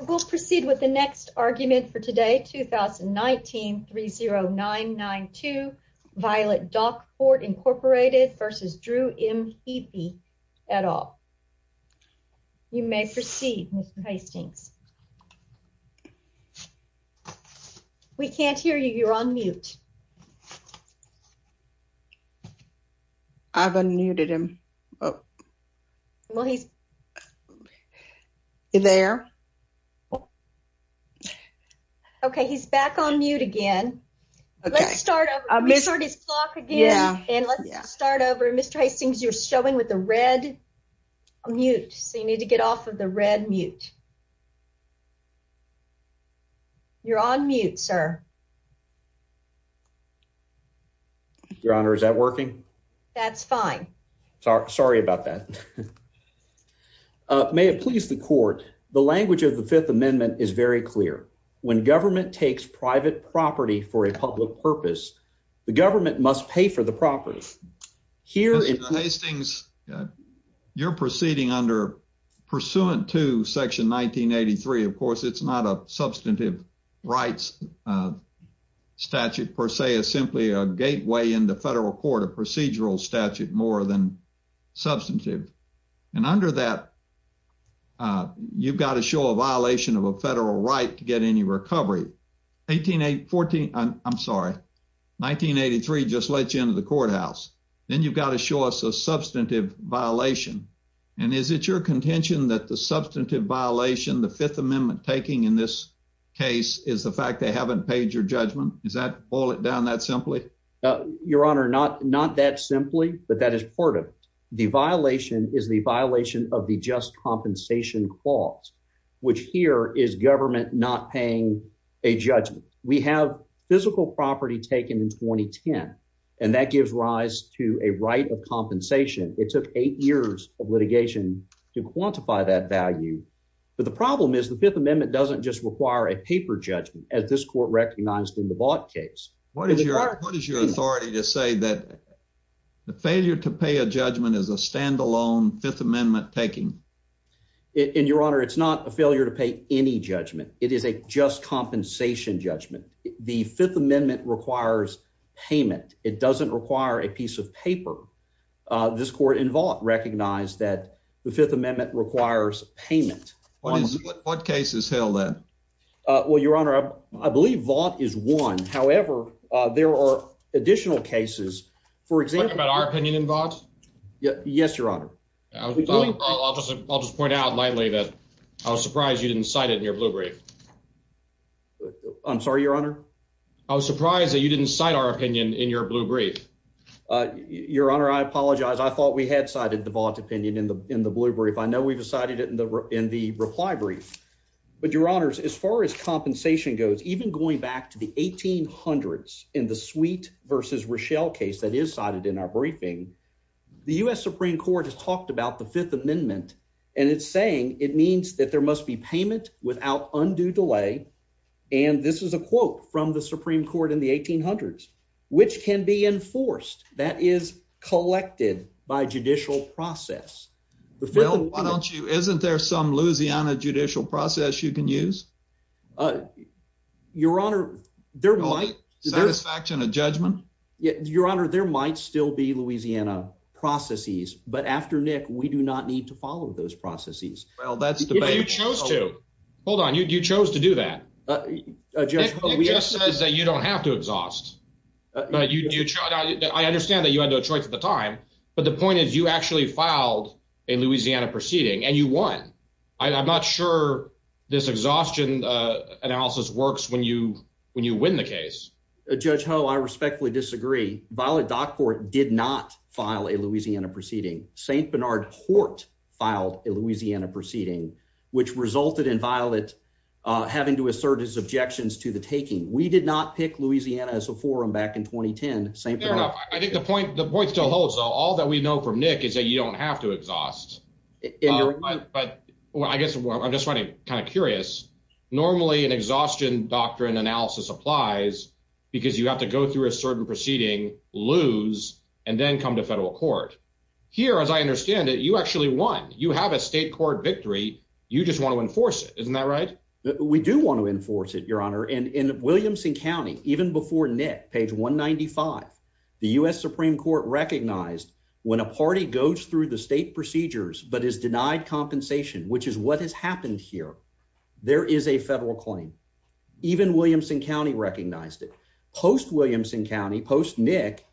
We'll proceed with the next argument for today, 2019-30992, Violet Dock Port, Inc. v. Drew M. Heaphy, et al. You may proceed, Mr. Hastings. We can't hear you. You're on mute. I've unmuted him. Okay, he's back on mute again. Let's start over. Mr. Hastings, you're showing with the red mute, so you need to get off of the red mute. You're on mute, sir. Your Honor, is that working? That's fine. Sorry about that. May it please the Court, the language of the Fifth Amendment is very clear. When government takes private property for a public purpose, the government must pay for the property. Mr. Hastings, you're proceeding under pursuant to Section 1983. Of course, it's not a substantive rights statute per se. It's simply a gateway into federal court, a procedural statute more than substantive. And under that, you've got to show a violation of a federal right to get any recovery. I'm sorry, 1983 just let you into the courthouse. Then you've got to show us a substantive violation. And is it your contention that the substantive violation the Fifth Amendment taking in this case is the fact they haven't paid your judgment? Is that boil it down that simply? Your Honor, not that simply, but that is part of it. The violation is the violation of the just compensation clause, which here is government not paying a judgment. We have physical property taken in 2010, and that gives rise to a right of compensation. It took eight years of litigation to quantify that value. But the problem is the Fifth Amendment doesn't just require a paper judgment as this court recognized in the bought case. What is your authority to say that the failure to pay a judgment is a standalone Fifth Amendment taking in your honor? It's not a Fifth Amendment requires payment. It doesn't require a piece of paper. This court involved recognized that the Fifth Amendment requires payment. What cases held there? Well, Your Honor, I believe Vaught is one. However, there are additional cases, for example, about our opinion involved. Yes, Your Honor. I'll just point out lightly that I was surprised you didn't cite your blue brief. I'm sorry, Your Honor. I was surprised that you didn't cite our opinion in your blue brief. Your Honor, I apologize. I thought we had cited the Vaught opinion in the in the blue brief. I know we've decided it in the in the reply brief, but your honors, as far as compensation goes, even going back to the 18 hundreds in the sweet versus Rochelle case that is cited in our briefing, the U. S. Supreme Court has talked about the Fifth Amendment, and it's saying it means that there must be payment without undue delay. And this is a quote from the Supreme Court in the 18 hundreds, which can be enforced. That is collected by judicial process. The film. Why don't you? Isn't there some Louisiana judicial process you can use? Your Honor, there might satisfaction of judgment. Your Honor, there might still be Louisiana processes. But after Nick, we do not need to follow those processes. Well, that's the way you chose to hold on. You chose to do that. We just says that you don't have to exhaust. I understand that you had no choice at the time, but the point is you actually filed a Louisiana proceeding and you won. I'm not sure this exhaustion analysis works when you win the case. Judge Ho, I respectfully disagree. Violet Dockport did not file a Louisiana proceeding. Saint Bernard Hort filed a Louisiana proceeding, which resulted in Violet having to assert his objections to the taking. We did not pick Louisiana as a forum back in 2010. I think the point the point still holds all that we know from Nick is that you don't have to exhaust. But I guess I'm just kind of curious. Normally, an exhaustion doctrine analysis applies because you have to go through a certain proceeding, lose, and then come to federal court. Here, as I understand it, you actually won. You have a state court victory. You just want to enforce it. Isn't that right? We do want to enforce it, Your Honor. And in Williamson County, even before Nick, page 195, the U.S. Supreme Court recognized when a party goes through the state procedures but is denied compensation, which is what has happened here, there is a federal claim. Even Williamson County recognized it. Post Williamson County, post Nick,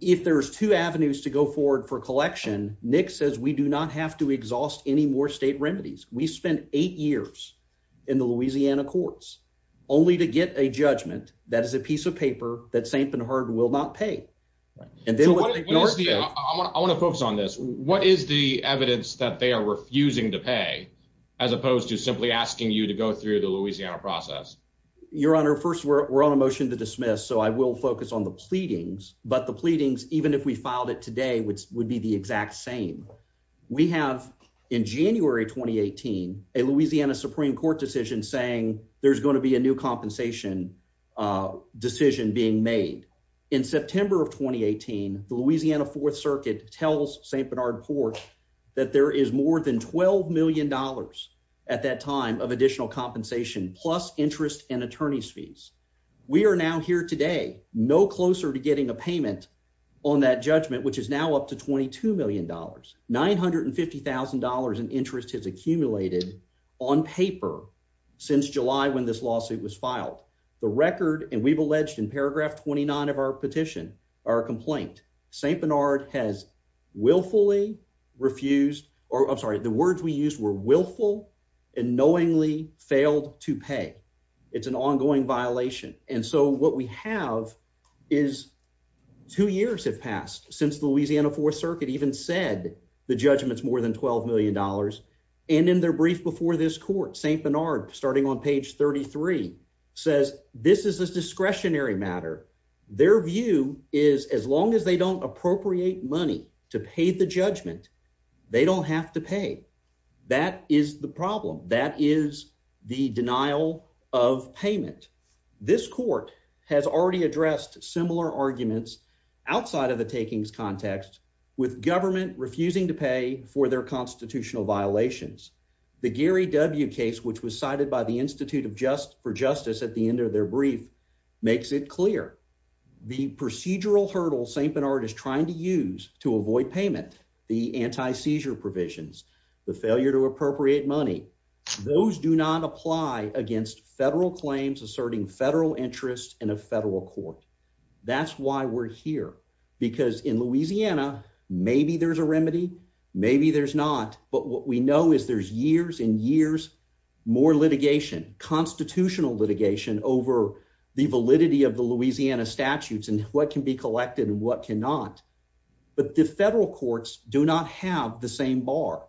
if there's two avenues to go forward for collection, Nick says we do not have to exhaust any more state remedies. We spent eight years in the Louisiana courts only to get a judgment that is a piece of paper that St. Bernard will not pay. I want to focus on this. What is the evidence that they are refusing to pay as opposed to simply asking you to go through the Louisiana process? Your Honor, first, we're on a motion to dismiss, so I will focus on the pleadings. But the pleadings, even if we filed it today, would be the exact same. We have in January 2018 a Louisiana Supreme Court decision saying there's going to be a new compensation decision being made. In September of 2018, the Louisiana Fourth Circuit tells St. Bernard Court that there is more than $12 million at that time of additional compensation plus interest and attorney's fees. We are now here today, no closer to getting a payment on that judgment, which is now up to $22 million. $950,000 in interest has accumulated on paper since July when this lawsuit was filed. The record, and we've alleged in paragraph 29 of our petition, our complaint, St. Bernard has willfully refused, or I'm sorry, the words we used were willful and knowingly failed to pay. It's an ongoing violation. And so what we have is two years have passed since the Louisiana Fourth Circuit even said the judgment's more than $12 million. And in their brief before this court, St. Bernard, starting on page 33, says this is a discretionary matter. Their view is as long as they don't appropriate money to pay the judgment, they don't have to pay. That is the problem. That is the denial of payment. This court has already addressed similar arguments outside of the takings context with government refusing to pay for their constitutional violations. The Gary W. case, which was cited by the Institute of Just for Justice at the end of their brief, makes it clear the procedural hurdle St. Bernard is trying to use to avoid payment, the anti seizure provisions, the failure to appropriate money. Those do not apply against federal claims asserting federal interest in a federal court. That's why we're here, because in Louisiana, maybe there's a remedy. Maybe there's not. But what we know is there's years and years more litigation, constitutional litigation over the validity of the Louisiana statutes and what can be collected and what cannot. But the federal courts do not have the same bar.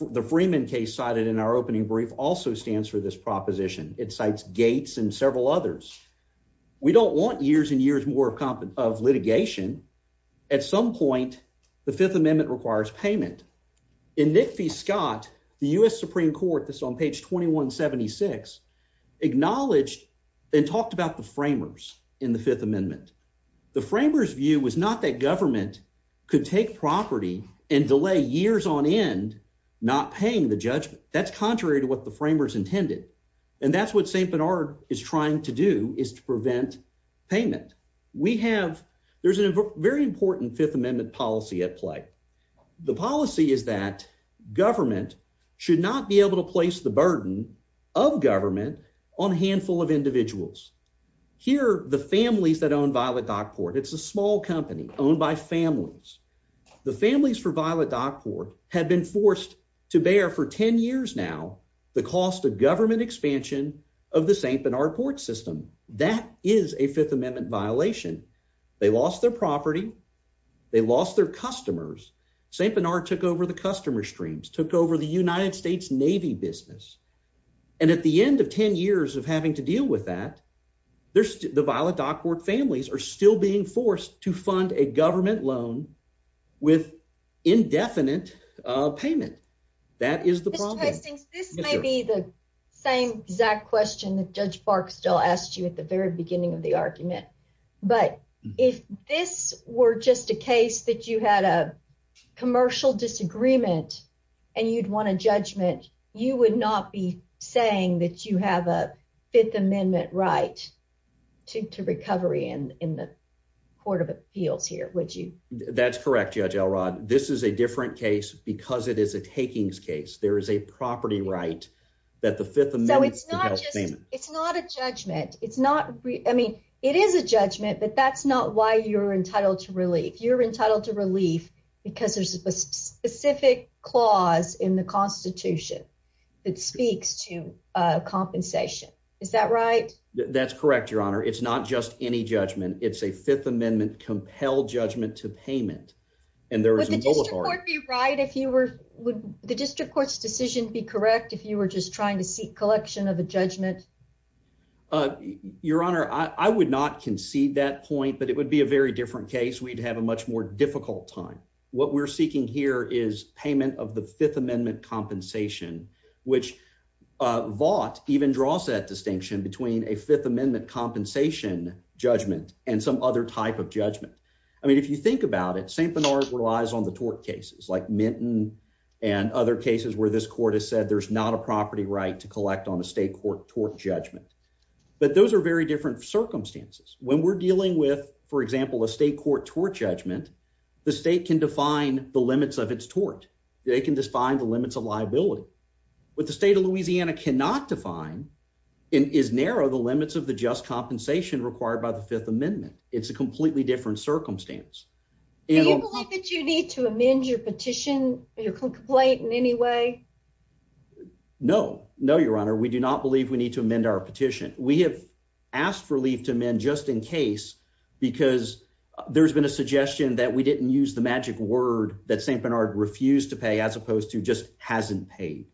The Freeman case cited in our opening brief also stands for this proposition. It cites Gates and several others. We don't want years and years more competent of litigation. At some point, the Fifth Amendment requires payment in Nick Fee. Scott, the U. S. Supreme Court that's on page 21 76 acknowledged and talked about the framers in the Fifth Amendment. The framers view was not that government could take property and delay years on end, not paying the judgment. That's contrary to what the framers intended, and that's what St Bernard is trying to do is to prevent payment. We have There's a very important Fifth Amendment policy at play. The policy is that government should not be able to place the burden of government on a handful of individuals. Here, the families that own Violet Dockport. It's a small company owned by families. The families for Violet Dockport have been forced to bear for 10 years now the cost of government expansion of the St Bernard Port system. That is a Fifth Amendment violation. They lost their property. They lost their customers. St Bernard took over the customer streams, took over the United States Navy business, and at the end of 10 years of having to deal with that, there's the Violet Dockport families are still being forced to fund a government loan with indefinite payment. That is the problem. This may be the same exact question that Judge Barksdale asked you at the very beginning of the argument, but if this were just a case that you had a commercial disagreement and you'd want a judgment, you would not be saying that you have a Fifth Amendment right to recovery in the Court of Appeals here, would you? That's correct, Judge Elrod. This is a different case because it is a takings case. There is a property right that the Fifth Amendment... So it's not a judgment. It is a judgment, but that's not why you're entitled to relief. You're entitled to relief because there's a specific clause in the Constitution that speaks to compensation. Is that right? That's correct, Your Honor. It's not just any judgment. It's a Fifth Amendment compelled judgment to payment, and there is a... Would the district court's decision be correct if you were just trying to seek collection of a judgment? Your Honor, I would not concede that point, but it would be a very different case. We'd have a much more difficult time. What we're seeking here is payment of the Fifth Amendment compensation, which Vought even draws that distinction between a Fifth Amendment compensation judgment and some other type of judgment. I mean, if you think about it, St. Bernard relies on the tort cases like Minton and other cases where this court has said there's not a property right to collect on a state court tort judgment, but those are very different circumstances. When we're dealing with, for example, a state court tort judgment, the state can define the limits of its tort. They can define the limits of liability. What the state of Louisiana cannot define is narrow the limits of the just compensation required by the Fifth Amendment. It's a completely different circumstance. Do you believe that you need to amend your petition, your complaint in any way? No. No, Your Honor. We do not believe we need to amend our petition. We have asked for leave to amend just in case, because there's been a suggestion that we didn't use the magic word that St. Bernard refused to pay as opposed to just hasn't paid.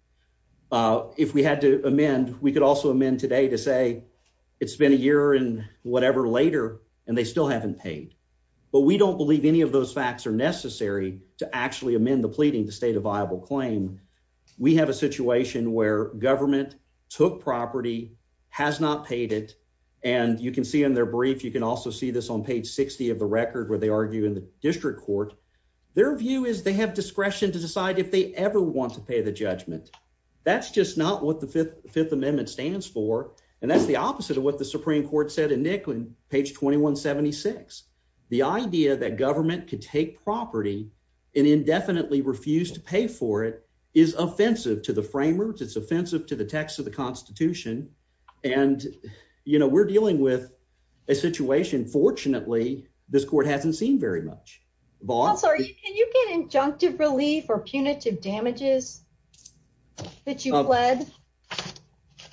If we had to amend, we could also amend today to say it's been a year and whatever later, and they still haven't paid. But we don't believe any of those facts are necessary to actually amend the pleading to state a viable claim. We have a situation where government took property has not paid it, and you can see in their brief. You can also see this on page 60 of the record where they argue in the district court. Their view is they have discretion to decide if they ever want to pay the judgment. That's just not what the Fifth Amendment stands for, and that's the opposite of what the Supreme Court said in Nicklin page 21 76. The idea that government could take property and indefinitely refused to pay for it is offensive to the framers. It's offensive to the text of the Constitution, and, you know, we're dealing with a situation. Fortunately, this court hasn't seen very much ball. Sorry. Can you get injunctive relief or punitive damages that you led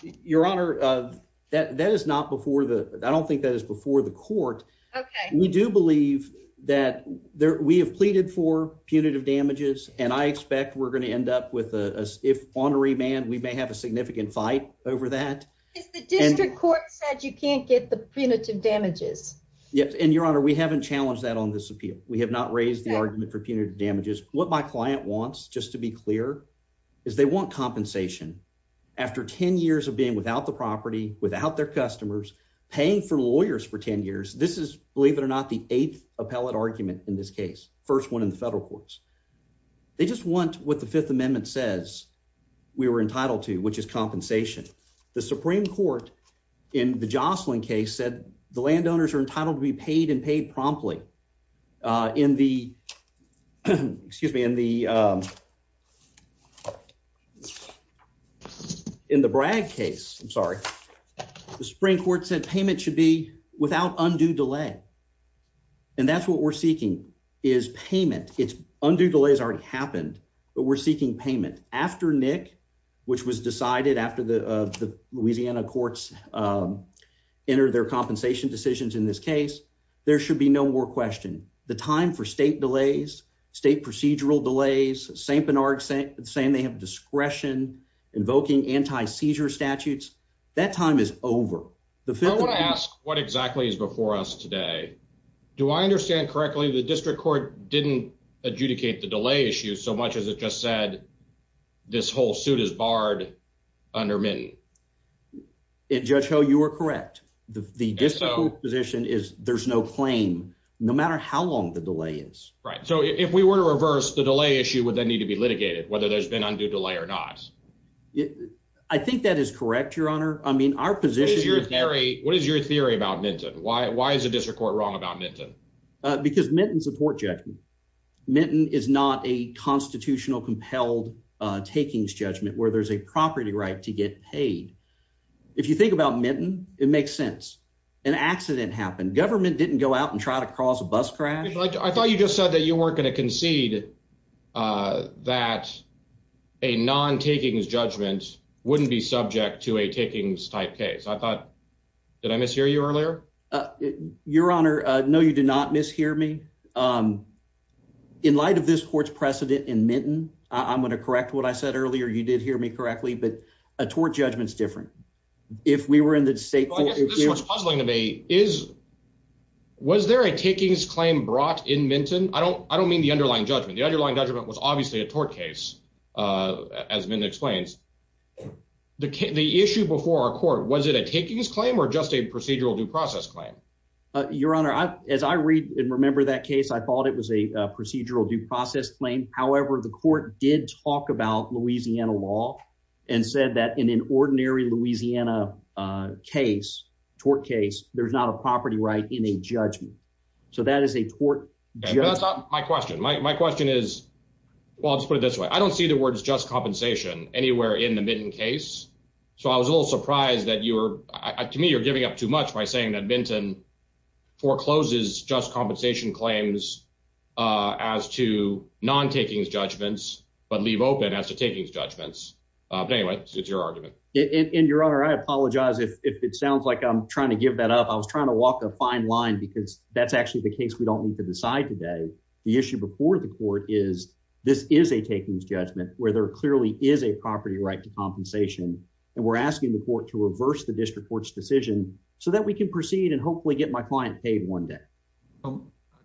your honor? That that is not before the I don't think that is before the court. We do believe that we have pleaded for punitive damages, and I expect we're gonna end up with a if on a remand, we may have a significant fight over that. The district court said you can't get the punitive damages. Yes, and your honor, we haven't challenged that on this appeal. We have not raised the argument for punitive damages. What my client wants just to be clear is they want compensation after 10 years of being without the property without their customers paying for lawyers for 10 years. This is, believe it or not, the eighth appellate argument in this case, first one in the federal courts. They just want what the Fifth Amendment says we were entitled to, which is compensation. The Supreme Court in the Jocelyn case said the landowners are entitled to be paid and paid promptly in the excuse me in the, um, in the brag case. I'm sorry. The Supreme Court said without undue delay, and that's what we're seeking is payment. It's undue delays already happened, but we're seeking payment after Nick, which was decided after the Louisiana courts, um, entered their compensation decisions. In this case, there should be no more question the time for state delays, state procedural delays. Saint Bernard saying they have discretion invoking anti seizure statutes. That time is over. I want to ask what exactly is before us today. Do I understand correctly? The district court didn't adjudicate the delay issue so much as it just said this whole suit is barred under mitten. It judge how you were correct. The disco position is there's no claim no matter how long the delay is right. So if we were to reverse the delay issue would then need to be litigated whether there's been undue delay or not. Yeah, I think that is correct, Your Honor. I mean, our position is very. What is your theory about Minton? Why? Why is the district court wrong about Minton? Because Minton support judgment Minton is not a constitutional compelled takings judgment where there's a property right to get paid. If you think about Minton, it makes sense. An accident happened. Government didn't go out and try to cross a bus crash. I thought you just said that you weren't going to concede uh that a non takings judgment wouldn't be subject to a takings type case. I thought did I mishear you earlier? Your Honor, no, you did not mishear me. Um, in light of this court's precedent in Minton, I'm going to correct what I said earlier. You did hear me correctly, but a tort judgment is different. If we were in the state, what's puzzling to me is was there a judgment. The underlying judgment was obviously a tort case. Uh, as Minton explains, the issue before our court, was it a takings claim or just a procedural due process claim? Your Honor, as I read and remember that case, I thought it was a procedural due process claim. However, the court did talk about Louisiana law and said that in an ordinary Louisiana case, tort case, there's not a property right in a judgment. So that is a tort. My question, my question is, well, I'll just put it this way. I don't see the words just compensation anywhere in the Minton case. So I was a little surprised that you were, to me, you're giving up too much by saying that Minton forecloses just compensation claims uh as to non takings judgments, but leave open as to takings judgments. Uh, but anyway, it's your argument. And Your Honor, I apologize if it sounds like I'm trying to give that up. I was trying to walk a fine line because that's actually the case we don't need to today. The issue before the court is this is a takings judgment where there clearly is a property right to compensation. And we're asking the court to reverse the district court's decision so that we can proceed and hopefully get my client paid one day.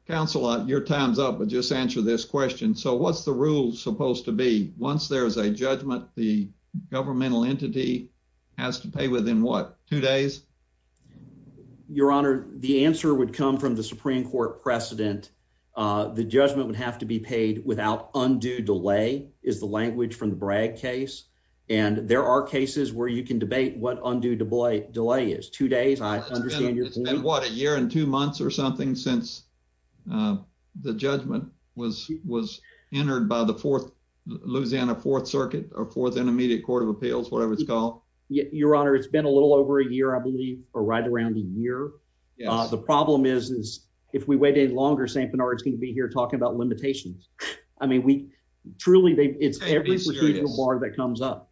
Counselor, your time's up, but just answer this question. So what's the rule supposed to be? Once there is a judgment, the governmental entity has to pay within what, two days? Your Honor, the answer would come from the Supreme Court precedent. Uh, the judgment would have to be paid without undue delay is the language from the Bragg case. And there are cases where you can debate what undue delay delay is two days. I understand it's been what a year and two months or something since, uh, the judgment was was entered by the fourth Louisiana Fourth Circuit or fourth Intermediate Court of Appeals, whatever it's Your Honor, it's been a little over a year, I believe, or right around a year. The problem is, is if we wait any longer, St. Bernard's going to be here talking about limitations. I mean, we truly, it's every bar that comes up.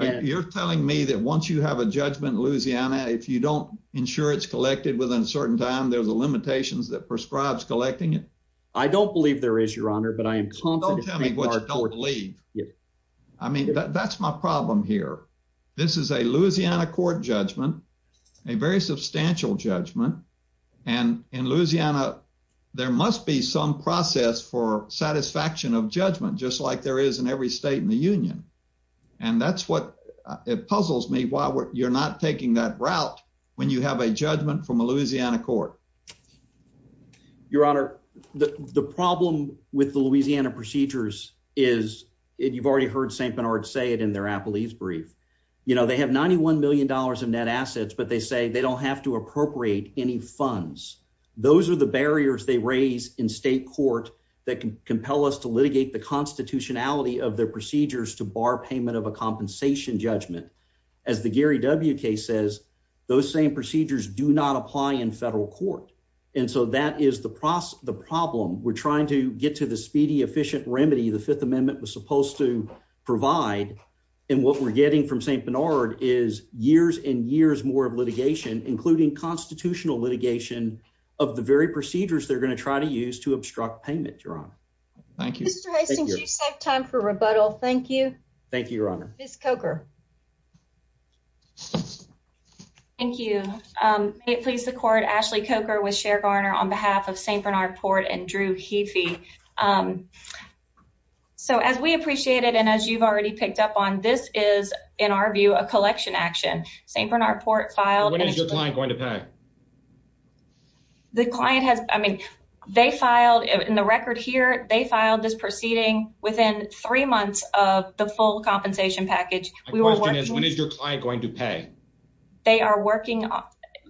You're telling me that once you have a judgment, Louisiana, if you don't ensure it's collected within a certain time, there's a limitations that prescribes collecting it. I don't believe there is, Your Honor, but I am confident. Believe I mean, that's my problem here. This is a Louisiana court judgment, a very substantial judgment. And in Louisiana, there must be some process for satisfaction of judgment, just like there is in every state in the union. And that's what it puzzles me. Why you're not taking that route when you have a judgment from a Louisiana court, Your Honor, the problem with the Louisiana procedures is it. You've already heard St. Bernard say it in their Apple. He's brief. You know, they have $91 million of net assets, but they say they don't have to appropriate any funds. Those are the barriers they raise in state court that can compel us to litigate the constitutionality of their procedures to bar payment of a compensation judgment. As the Gary W. K. Says, those same procedures do not apply in federal court. And so that is the process. The problem we're trying to get to the speedy, efficient remedy. The Fifth Amendment was supposed to provide. And what we're getting from St. Bernard is years and years more of litigation, including constitutional litigation of the very procedures they're going to try to use to obstruct payment. Your Honor. Thank you, Mr. Hastings. You save time for rebuttal. Thank you. Thank you, Your Honor. Miss Coker. Thank you. May it please the court, Ashley Coker with Cher Garner on behalf of St. Bernard Port and Drew Heafy. So as we appreciate it and as you've already picked up on, this is, in our view, a collection action. St. Bernard Port filed. When is your client going to pay? The client has. I mean, they filed in the record here. They filed this proceeding within three months of the full compensation package. When is your client going to pay? They are working.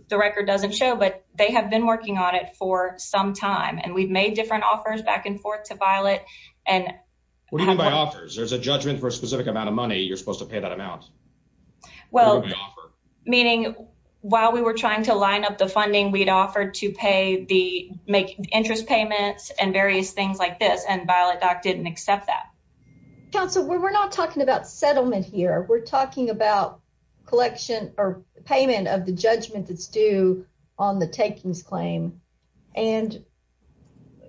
The record doesn't show, but they have been working on it for some time. And we've made different offers back and forth to Violet. And what do you mean by offers? There's a judgment for a specific amount of money. You're supposed to pay that amount. Well, meaning while we were trying to line up the funding, we'd offered to pay the interest payments and various things like this. And Violet didn't accept that. Counsel, we're not talking about settlement here. We're talking about collection or payment of the judgment that's due on the takings claim. And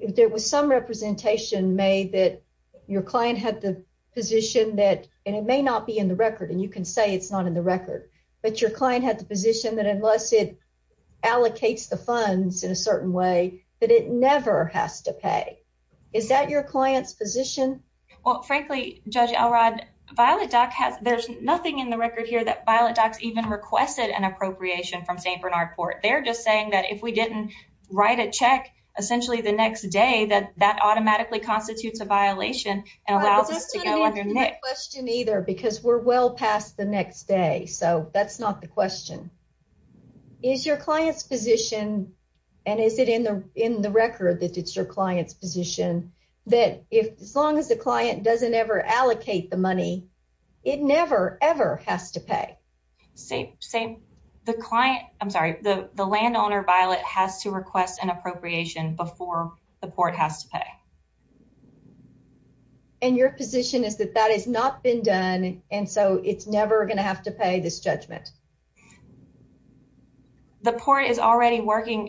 there was some representation made that your client had the position that it may not be in the record. And you can say it's not in the record, but your client had the position that unless it is. Well, frankly, Judge Elrod, Violet Dock has, there's nothing in the record here that Violet Dock's even requested an appropriation from St. Bernard Court. They're just saying that if we didn't write a check essentially the next day, that that automatically constitutes a violation and allows us to go underneath. That's not an answer to my question either, because we're well past the next day. So that's not the question. Is your client's position, and is it in the record that it's your client's position, that as long as the client doesn't ever allocate the money, it never ever has to pay? Same. The client, I'm sorry, the landowner, Violet, has to request an appropriation before the court has to pay. And your position is that that has not been done, and so it's never going to have to pay this judgment? The court is already working,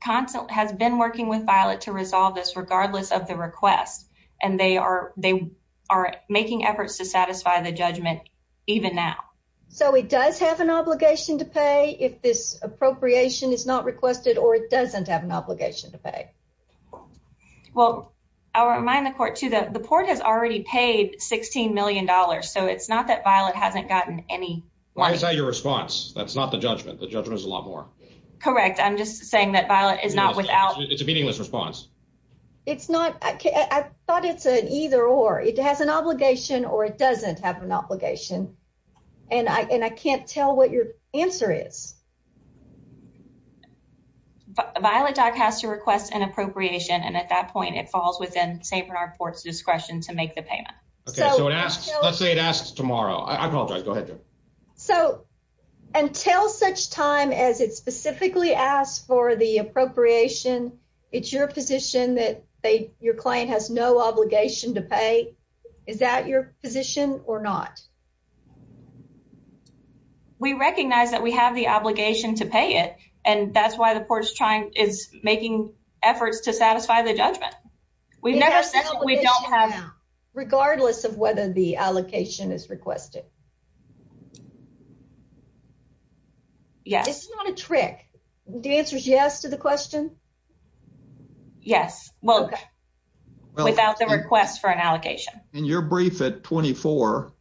has been working with Violet to resolve this regardless of the request. And they are making efforts to satisfy the judgment even now. So it does have an obligation to pay if this appropriation is not requested, or it doesn't have an obligation to pay? Well, I'll remind the court too that the it's not that Violet hasn't gotten any. Why is that your response? That's not the judgment. The judgment is a lot more. Correct. I'm just saying that Violet is not without... It's a meaningless response. It's not. I thought it's an either or. It has an obligation or it doesn't have an obligation. And I can't tell what your answer is. Violet Dock has to request an appropriation, and at that point it falls within St. Bernard Court's discretion to make the payment. Okay, so let's say it asks tomorrow. I apologize. Go ahead. So until such time as it specifically asks for the appropriation, it's your position that your client has no obligation to pay. Is that your position or not? We recognize that we have the obligation to pay it, and that's why the court is trying, is making efforts to satisfy the judgment. We've never said we don't have... Regardless of whether the allocation is requested. Yes. It's not a trick. The answer is yes to the question. Yes. Well, without the request for an allocation. In your brief at 24,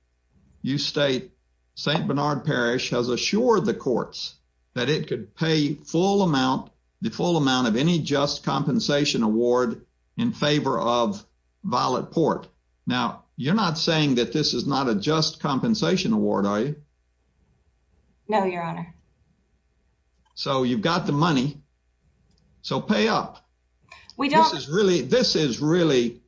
you state St. Bernard Parish has assured the courts that it could pay the full amount of any just compensation award in favor of Violet Port. Now, you're not saying that this is not a just compensation award, are you? No, your honor. So you've got the money. So pay up. This is really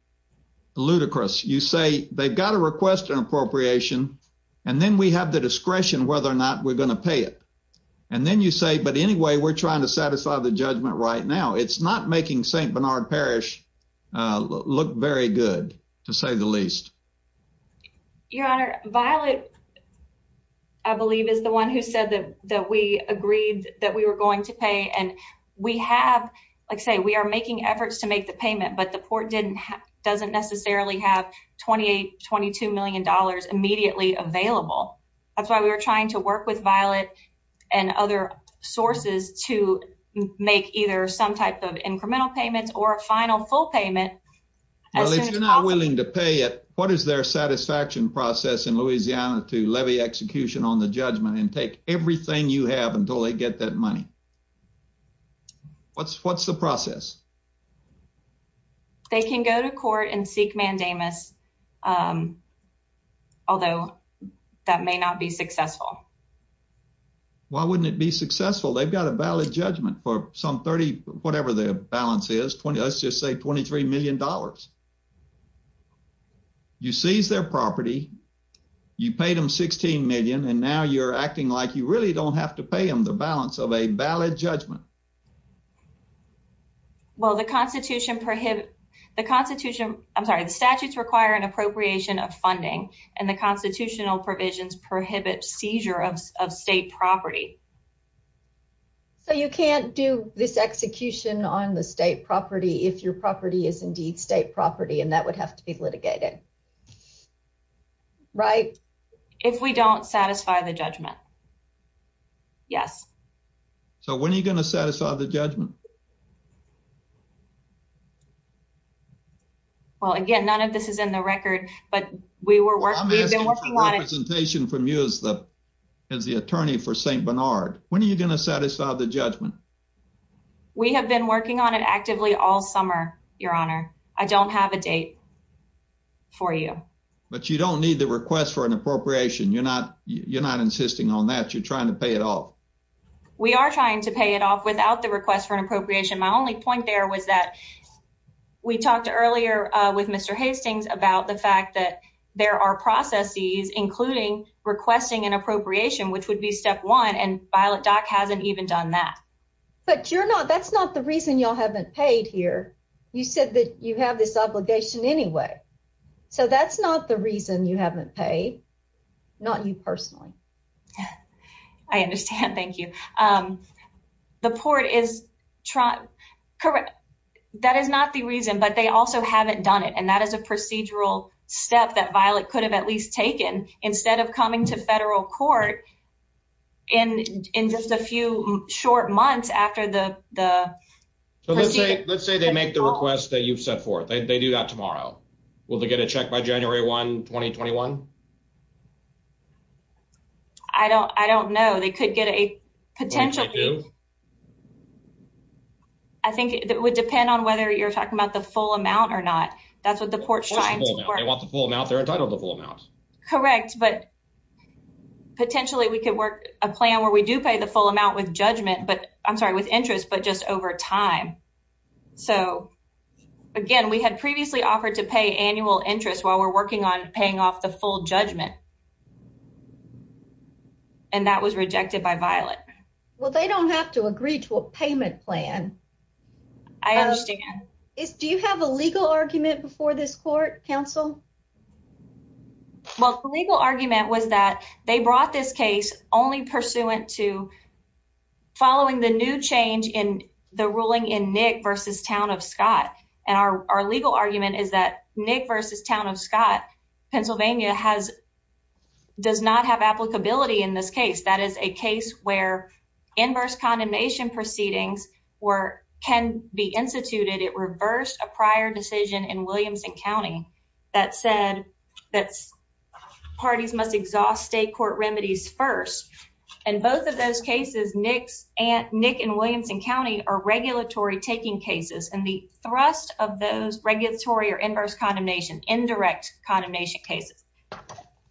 ludicrous. You say they've got to request an appropriation, and then we have the discretion whether or not we're going to pay it. And then you say, but anyway, we're trying to satisfy the judgment right now. It's not making St. Bernard Parish look very good, to say the least. Your honor, Violet, I believe, is the one who said that we agreed that we were going to pay. And we have, like I say, we are making efforts to have $28, $22 million immediately available. That's why we were trying to work with Violet and other sources to make either some type of incremental payments or a final full payment. Well, if you're not willing to pay it, what is their satisfaction process in Louisiana to levy execution on the judgment and take everything you have until they get that money? What's the process? They can go to court and seek mandamus, although that may not be successful. Why wouldn't it be successful? They've got a valid judgment for some 30, whatever the balance is, 20, let's just say $23 million. You seize their property, you paid them $16 million, and now you're acting like you really don't have to pay them the balance of a valid judgment. Well, the Constitution prohibits, the Constitution, I'm sorry, the statutes require an appropriation of funding, and the constitutional provisions prohibit seizure of state property. So you can't do this execution on the state property if your property is indeed state property, and that would have to be litigated, right? If we don't satisfy the judgment. Yes. So when are you going to satisfy the judgment? Well, again, none of this is in the record, but we were working, we've been working on it. I'm asking for representation from you as the attorney for St. Bernard. When are you going to satisfy the judgment? We have been working on it actively all summer, Your Honor. I don't have a date for you. But you don't need the request for an appropriation. You're not insisting on that. You're trying to pay it off. We are trying to pay it off without the request for an appropriation. My only point there was that we talked earlier with Mr. Hastings about the fact that there are processes, including requesting an appropriation, which would be step one, and Violet Dock hasn't even done that. But you're not, that's not the reason y'all haven't paid here. You said that you have this obligation anyway. So that's not the reason you haven't paid. Not you personally. I understand. Thank you. The court is trying, correct. That is not the reason, but they also haven't done it. And that is a procedural step that Violet could have at least taken instead of coming to federal court in just a few short months after the procedure. Let's say they make the request that you've set forth. They do that tomorrow. Will they get a check by January 1, 2021? I don't, I don't know. They could get a potential. What do you think they do? I think it would depend on whether you're talking about the full amount or not. That's what the court's trying to work. What's the full amount? They want the full amount. They're entitled to the full amount. Correct. But potentially we could work a plan where we do pay the full amount with judgment, but I'm sorry, with interest, but just over time. So again, we had previously offered to pay annual interest while we're working on paying off the full judgment. And that was rejected by Violet. Well, they don't have to agree to a payment plan. I understand. Do you have a legal argument before this court, counsel? Well, the legal argument was that they brought this case only pursuant to following the new versus town of Scott. Pennsylvania has, does not have applicability in this case. That is a case where inverse condemnation proceedings were, can be instituted. It reversed a prior decision in Williamson County that said that parties must exhaust state court remedies first. And both of those cases, Nick's and Nick and Williamson County are regulatory taking cases. And the thrust of those regulatory or inverse condemnation, indirect condemnation cases,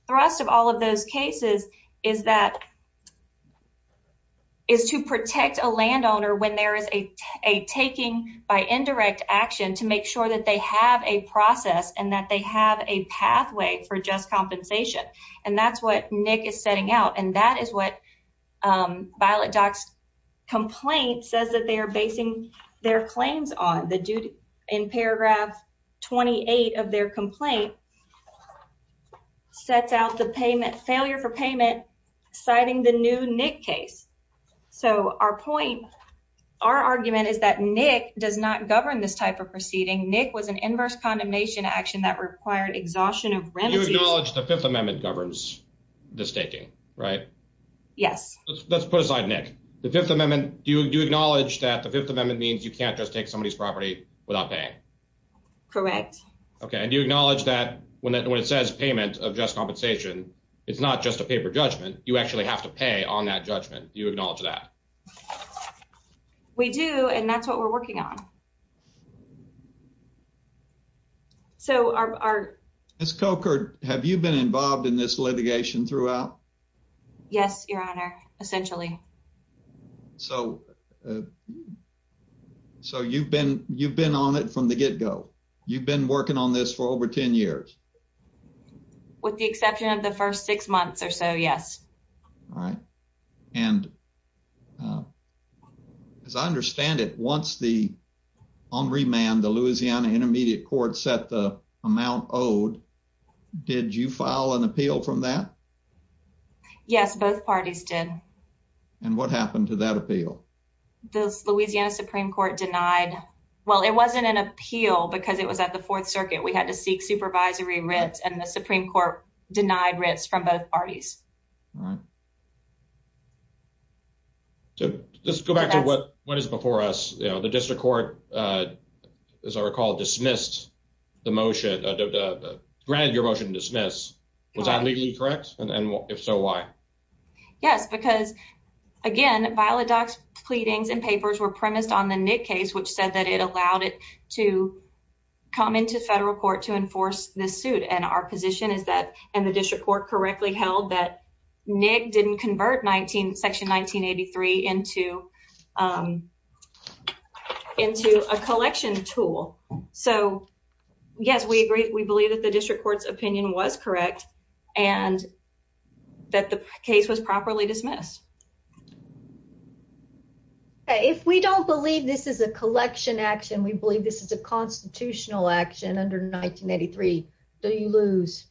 thrust of all of those cases is that is to protect a landowner when there is a, a taking by indirect action to make sure that they have a process and that they have a pathway for just compensation. And that's what Nick is setting out. And that is what Violet Dock's complaint says that they are basing their claims on the duty in paragraph 28 of their complaint sets out the payment failure for payment, citing the new Nick case. So our point, our argument is that Nick does not govern this type of proceeding. Nick was an inverse condemnation action that required exhaustion of remedies. You acknowledge the fifth amendment governs the staking, right? Yes. Let's put aside Nick. The fifth amendment, do you acknowledge that the fifth amendment means you can't just take somebody's property without paying? Correct. Okay. And you acknowledge that when it says payment of just compensation, it's not just a paper judgment. You actually have to pay on that judgment. Do you acknowledge that? We do. And that's what we're working on. So our, our. Ms. Coker, have you been involved in this litigation throughout? Yes, your honor, essentially. So, uh, so you've been, you've been on it from the get go. You've been working on this for over 10 years with the exception of the first six months or so. Yes. All right. And, uh, as I understand it, once the on remand, the Louisiana intermediate court set the amount owed, did you file an appeal from that? Yes, both parties did. And what happened to that appeal? The Louisiana Supreme court denied. Well, it wasn't an appeal because it was at the fourth circuit. We had to seek supervisory rents and the Supreme court denied rents from both parties. All right. So let's go back to what, what is before us, you know, the district court, uh, as I recall, dismissed the motion, uh, granted your motion to dismiss. Was that legally correct? And if so, why? Yes, because again, viola docs, pleadings and papers were premised on the Nick case, which said that it allowed it to come into federal court to enforce this suit. And our position is that, and the district court correctly held that Nick didn't convert 19 section 1983 into, um, into a collection tool. So yes, we agree. We believe that the district court's opinion was correct and that the case was properly dismissed. If we don't believe this is a collection action, we believe this is a constitutional action under 1983. Do you lose?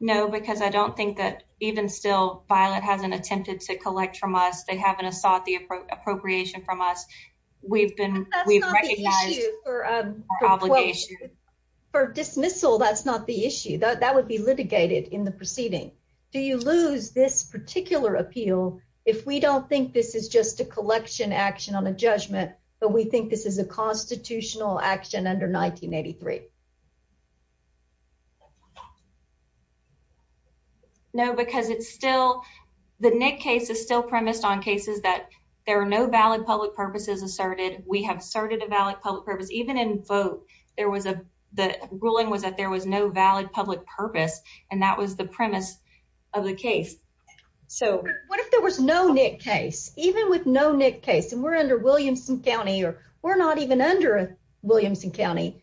No, because I don't think that even still, Violet hasn't attempted to collect from us. They haven't sought the appropriation from us. We've been, we've recognized obligation for dismissal. That's not the issue that that would be litigated in the proceeding. Do you lose this particular appeal? If we don't think this is just a collection action on a constitutional action under 1983? No, because it's still, the Nick case is still premised on cases that there are no valid public purposes asserted. We have started a valid public purpose, even in vote. There was a, the ruling was that there was no valid public purpose, and that was the premise of the case. So what if there was no Nick case, even with no Nick case, we're under Williamson County, or we're not even under Williamson County.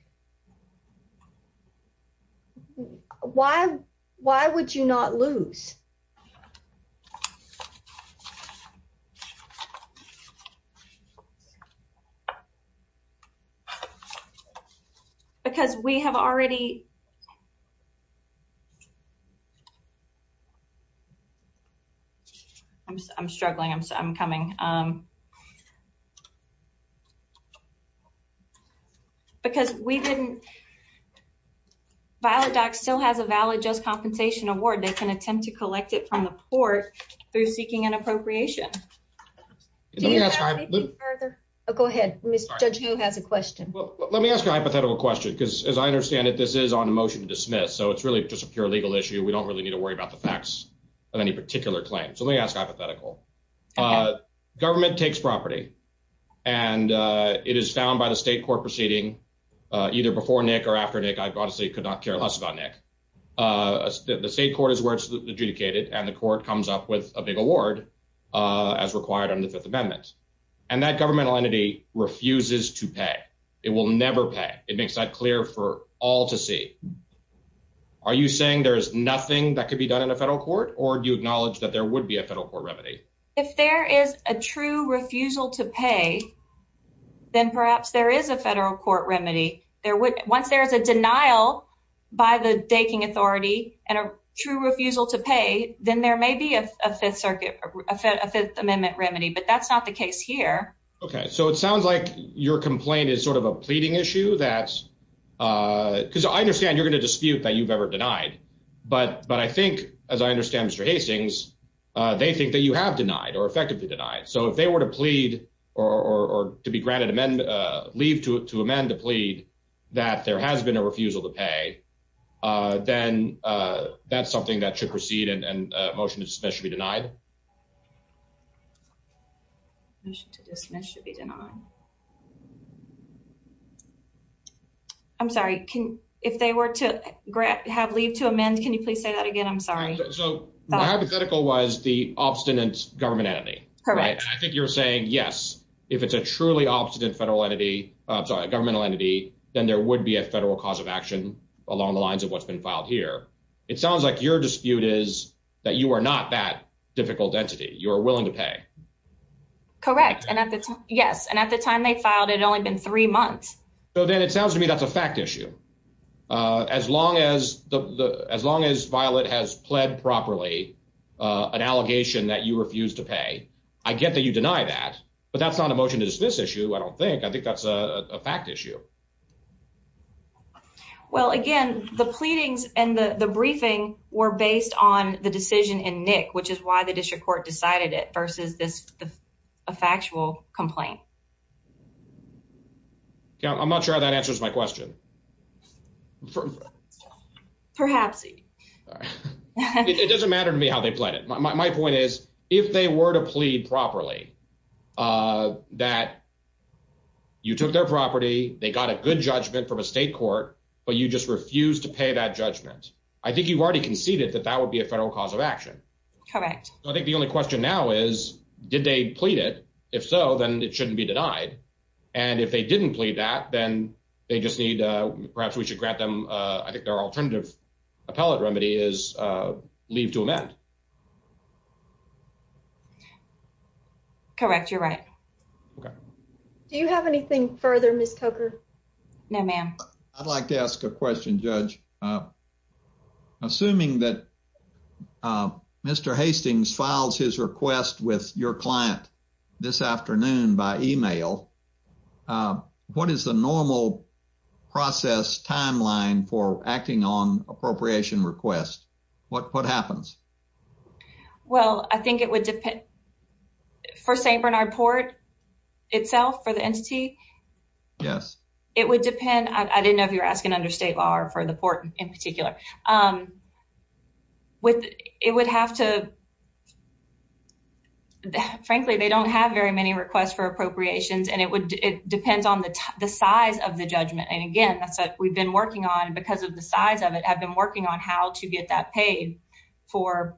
Why, why would you not lose? Because we have already, I'm struggling, I'm coming, because we didn't, Violet Dock still has a valid just compensation award. They can attempt to collect it from the court through seeking an appropriation. Go ahead. Mr. Judge, who has a question? Well, let me ask a hypothetical question, because as I understand it, this is on a motion to dismiss. So it's really just a pure legal issue. We don't really need to worry about the facts of any particular claim. So let me ask hypothetical. Government takes property, and it is found by the state court proceeding, either before Nick or after Nick, I honestly could not care less about Nick. The state court is where it's adjudicated, and the court comes up with a big award as required under the Fifth Amendment. And that governmental entity refuses to pay. It will never pay. It makes that clear for all to see. Are you saying there's nothing that could be done in a federal court? Or do you acknowledge that there would be a federal court remedy? If there is a true refusal to pay, then perhaps there is a federal court remedy. There would, once there is a denial by the Daking authority and a true refusal to pay, then there may be a Fifth Circuit, a Fifth Amendment remedy, but that's not the case here. Okay. So it sounds like your complaint is sort of a pleading issue. Because I understand you're going to dispute that you've ever denied. But I think, as I understand Mr. Hastings, they think that you have denied or effectively denied. So if they were to plead or to be granted leave to amend the plea that there has been a refusal to pay, then that's something that should proceed and a motion to dismiss should be denied? I'm sorry. If they were to have leave to amend, can you please say that again? I'm sorry. So my hypothetical was the obstinate government entity. Correct. I think you're saying, yes, if it's a truly obstinate governmental entity, then there would be a federal cause of action along the lines of what's been filed here. It sounds like your dispute is that you are not that difficult entity. You are willing to pay. Correct. Yes. And at the time they filed, it had only been three months. So then it sounds to me that's a fact issue. As long as Violet has pled properly an allegation that you refuse to pay, I get that you deny that, but that's not a motion to dismiss issue, I don't think. I think that's a fact issue. Well, again, the pleadings and the briefing were based on the decision in NIC, which is why the district court decided it versus this factual complaint. Yeah, I'm not sure that answers my question. Perhaps. It doesn't matter to me how they pled it. My point is, if they were to plead properly, uh, that you took their property, they got a good judgment from a state court, but you just refused to pay that judgment. I think you've already conceded that that would be a federal cause of action. Correct. I think the only question now is, did they plead it? If so, then it shouldn't be denied. And if they didn't plead that, then they just need, perhaps we should grant them, uh, I think their alternative appellate remedy is, uh, leave to amend. Correct. You're right. Okay. Do you have anything further, Ms. Coker? No, ma'am. I'd like to ask a question, Judge. Uh, assuming that, uh, Mr. Hastings files his request with your client this afternoon by email, uh, what is the normal process timeline for acting on appropriation request? What what happens? Well, I think it would depend for St. Bernard Port itself for the entity. Yes, it would depend. I didn't know if you're asking under state law or for the port in particular. Um, with it would have to, frankly, they don't have very many requests for appropriations, and it would it depends on the size of the judgment. And again, we've been working on because of the size of it have been working on how to get that paid for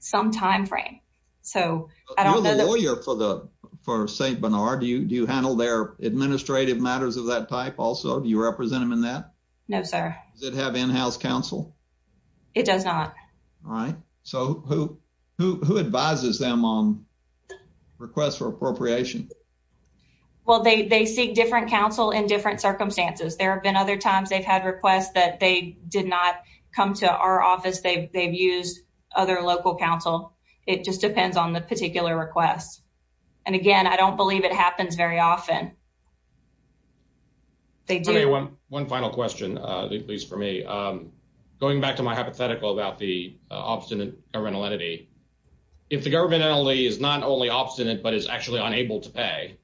some time frame. So I don't know the lawyer for the for St. Bernard. Do you? Do you handle their administrative matters of that type? Also, do you represent him in that? No, sir. Does it have in house counsel? It does not. All right. So who who who advises them on requests for appropriation? Well, they they seek different counsel in different circumstances. There have been other times they've had requests that they did not come to our office. They've used other local counsel. It just depends on the particular requests. And again, I don't believe it happens very often. They do. One final question, at least for me, going back to my hypothetical about the obstinate rental entity. If the government only is not only obstinate but is actually unable to pay,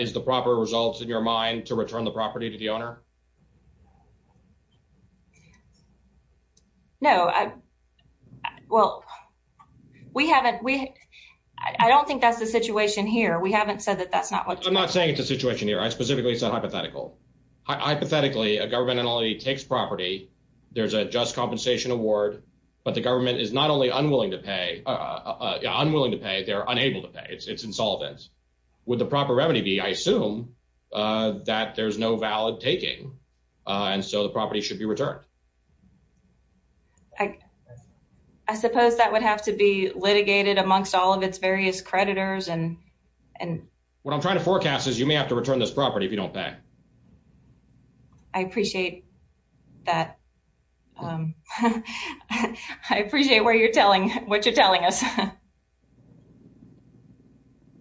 is the proper results in your mind to return the property to the owner? No. Well, we haven't we I don't think that's the situation here. We haven't said that that's not what I'm not saying it's a situation here. I specifically said hypothetical. Hypothetically, a government only takes property. There's a just compensation award, but the government is not only unwilling to pay, unwilling to pay, they're unable to pay. It's insolvent. Would the proper remedy be? I assume that there's no valid taking. And so the property should be returned. I suppose that would have to be litigated amongst all of its various creditors. And what I'm trying to forecast is you may have to return this property if you don't pay. I appreciate that. I appreciate where you're telling us.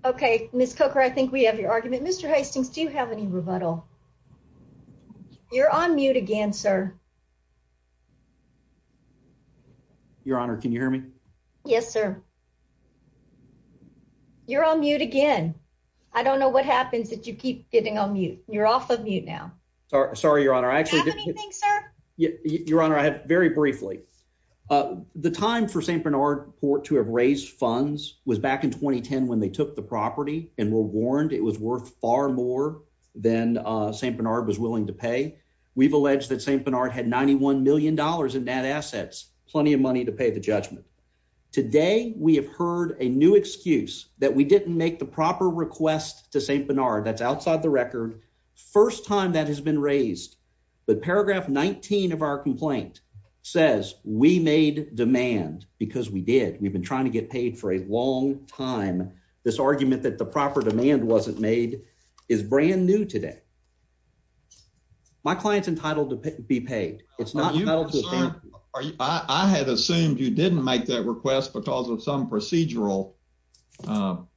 Okay, Miss Cooker, I think we have your argument. Mr Hastings, do you have any rebuttal? You're on mute again, sir. Your Honor. Can you hear me? Yes, sir. You're on mute again. I don't know what happens that you keep getting on mute. You're off of mute now. Sorry. Sorry, Your Honor. I actually did anything, sir. Your Honor. I have very briefly the time for ST Bernard Port to have raised funds was back in 2010 when they took the property and were warned it was worth far more than ST Bernard was willing to pay. We've alleged that ST Bernard had $91 million in net assets, plenty of money to pay the judgment. Today, we have heard a new excuse that we didn't make the proper request to ST Bernard. That's outside the record. First time that has been raised. But paragraph 19 of our complaint says we made demand because we did. We've been trying to get paid for a long time. This argument that the proper demand wasn't made is brand new today. My client's entitled to be paid. I had assumed you didn't make that request because of some procedural um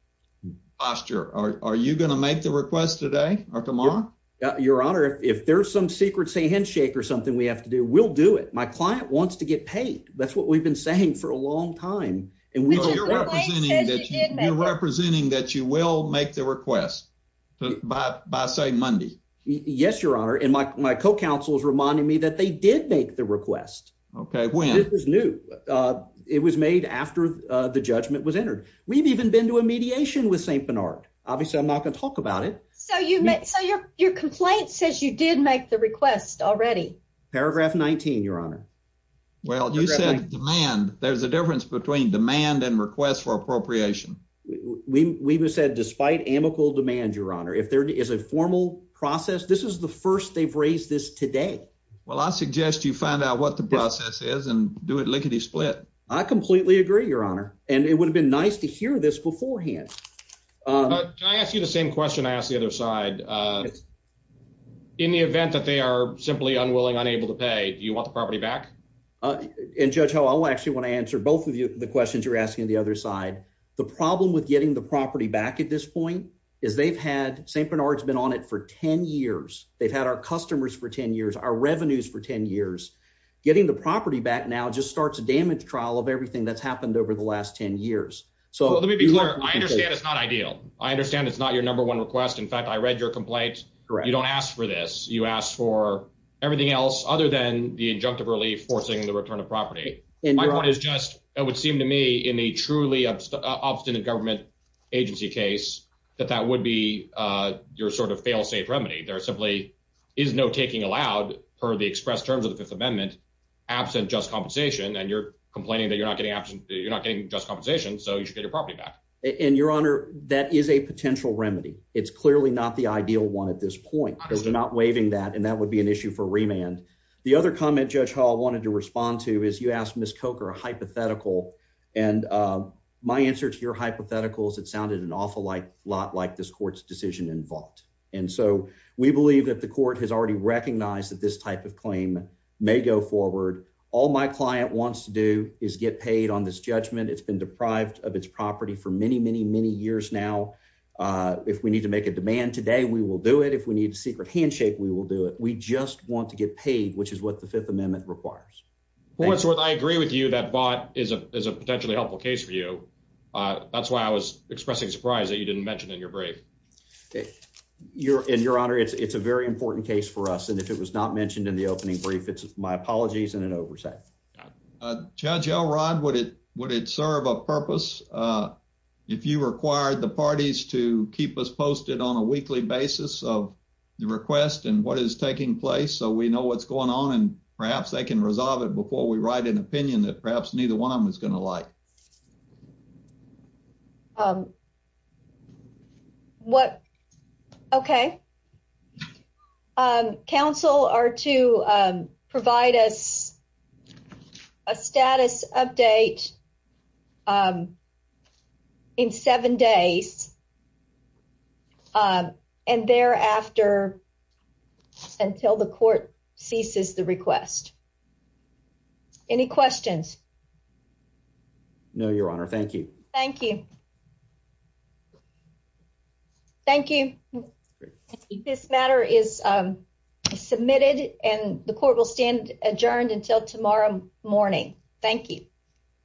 posture. Are you going to make the request today or tomorrow? Your Honor, if there's some secret handshake or something we have to do, we'll do it. My client wants to get paid. That's what we've been saying for a long time. And we're representing that you will make the request by say Monday. Yes, Your Honor. And my co-counsel is reminding me that they did make the request. Okay, when? It was new. It was made after the judgment was entered. We've even been to a mediation with ST Bernard. Obviously, I'm not going to talk about it. So your complaint says you did make the request already. Paragraph 19, Your Honor. Well, you said demand. There's a difference between demand and request for appropriation. We said despite amicable demand, Your Honor. If there is a formal process, this is the first they've raised this today. Well, I suggest you find out what the process is and do it lickety split. I completely agree, Your Honor. And it would have been nice to hear this beforehand. Can I ask you the same question I asked the other side? Uh, in the event that they are simply unwilling, unable to pay, do you want the property back? Uh, and Judge how I'll actually want to answer both of you. The questions you're asking the other side. The problem with getting the property back at this point is they've had ST Bernard's been on it for 10 years. They've had our customers for 10 years. Our revenues for 10 years. Getting the property back now just starts a damage trial of everything that's happened over the last 10 years. So let me be clear. I understand it's not ideal. I understand it's not your number one request. In fact, I read your complaint. You don't ask for this. You ask for everything else other than the injunctive relief, forcing the return of property. My point is just it would seem to me in a truly obstinate government agency case that that would be, uh, sort of fail safe remedy. There simply is no taking allowed per the expressed terms of the Fifth Amendment absent just compensation. And you're complaining that you're not getting absent. You're not getting just compensation. So you should get your property back. And your honor, that is a potential remedy. It's clearly not the ideal one at this point. They're not waiving that, and that would be an issue for remand. The other comment, Judge Hall wanted to respond to is you asked Miss Coker a hypothetical. And, uh, my answer to your hypotheticals, it sounded an awful like lot like this court's decision involved. And so we believe that the court has already recognized that this type of claim may go forward. All my client wants to do is get paid on this judgment. It's been deprived of its property for many, many, many years. Now, uh, if we need to make a demand today, we will do it. If we need a secret handshake, we will do it. We just want to get paid, which is what the Fifth Amendment requires. What's worth? I agree with you that bought is a potentially helpful case for you. That's why I was expressing surprise that you didn't mention in your break. You're in your honor. It's a very important case for us. And if it was not mentioned in the opening brief, it's my apologies and an oversight. Judge Elrod, would it? Would it serve a purpose? Uh, if you required the parties to keep us posted on a weekly basis of the request and what is taking place so we know what's going on, and perhaps they can resolve it before we write an opinion that perhaps neither one of them is gonna like. Um, what? Okay. Um, council are to, um, provide us a status update. Um, in seven days. Um, and thereafter, until the court ceases the request. Any questions? No, Your Honor. Thank you. Thank you. Thank you. This matter is, um, submitted, and the court will stand adjourned until tomorrow morning. Thank you.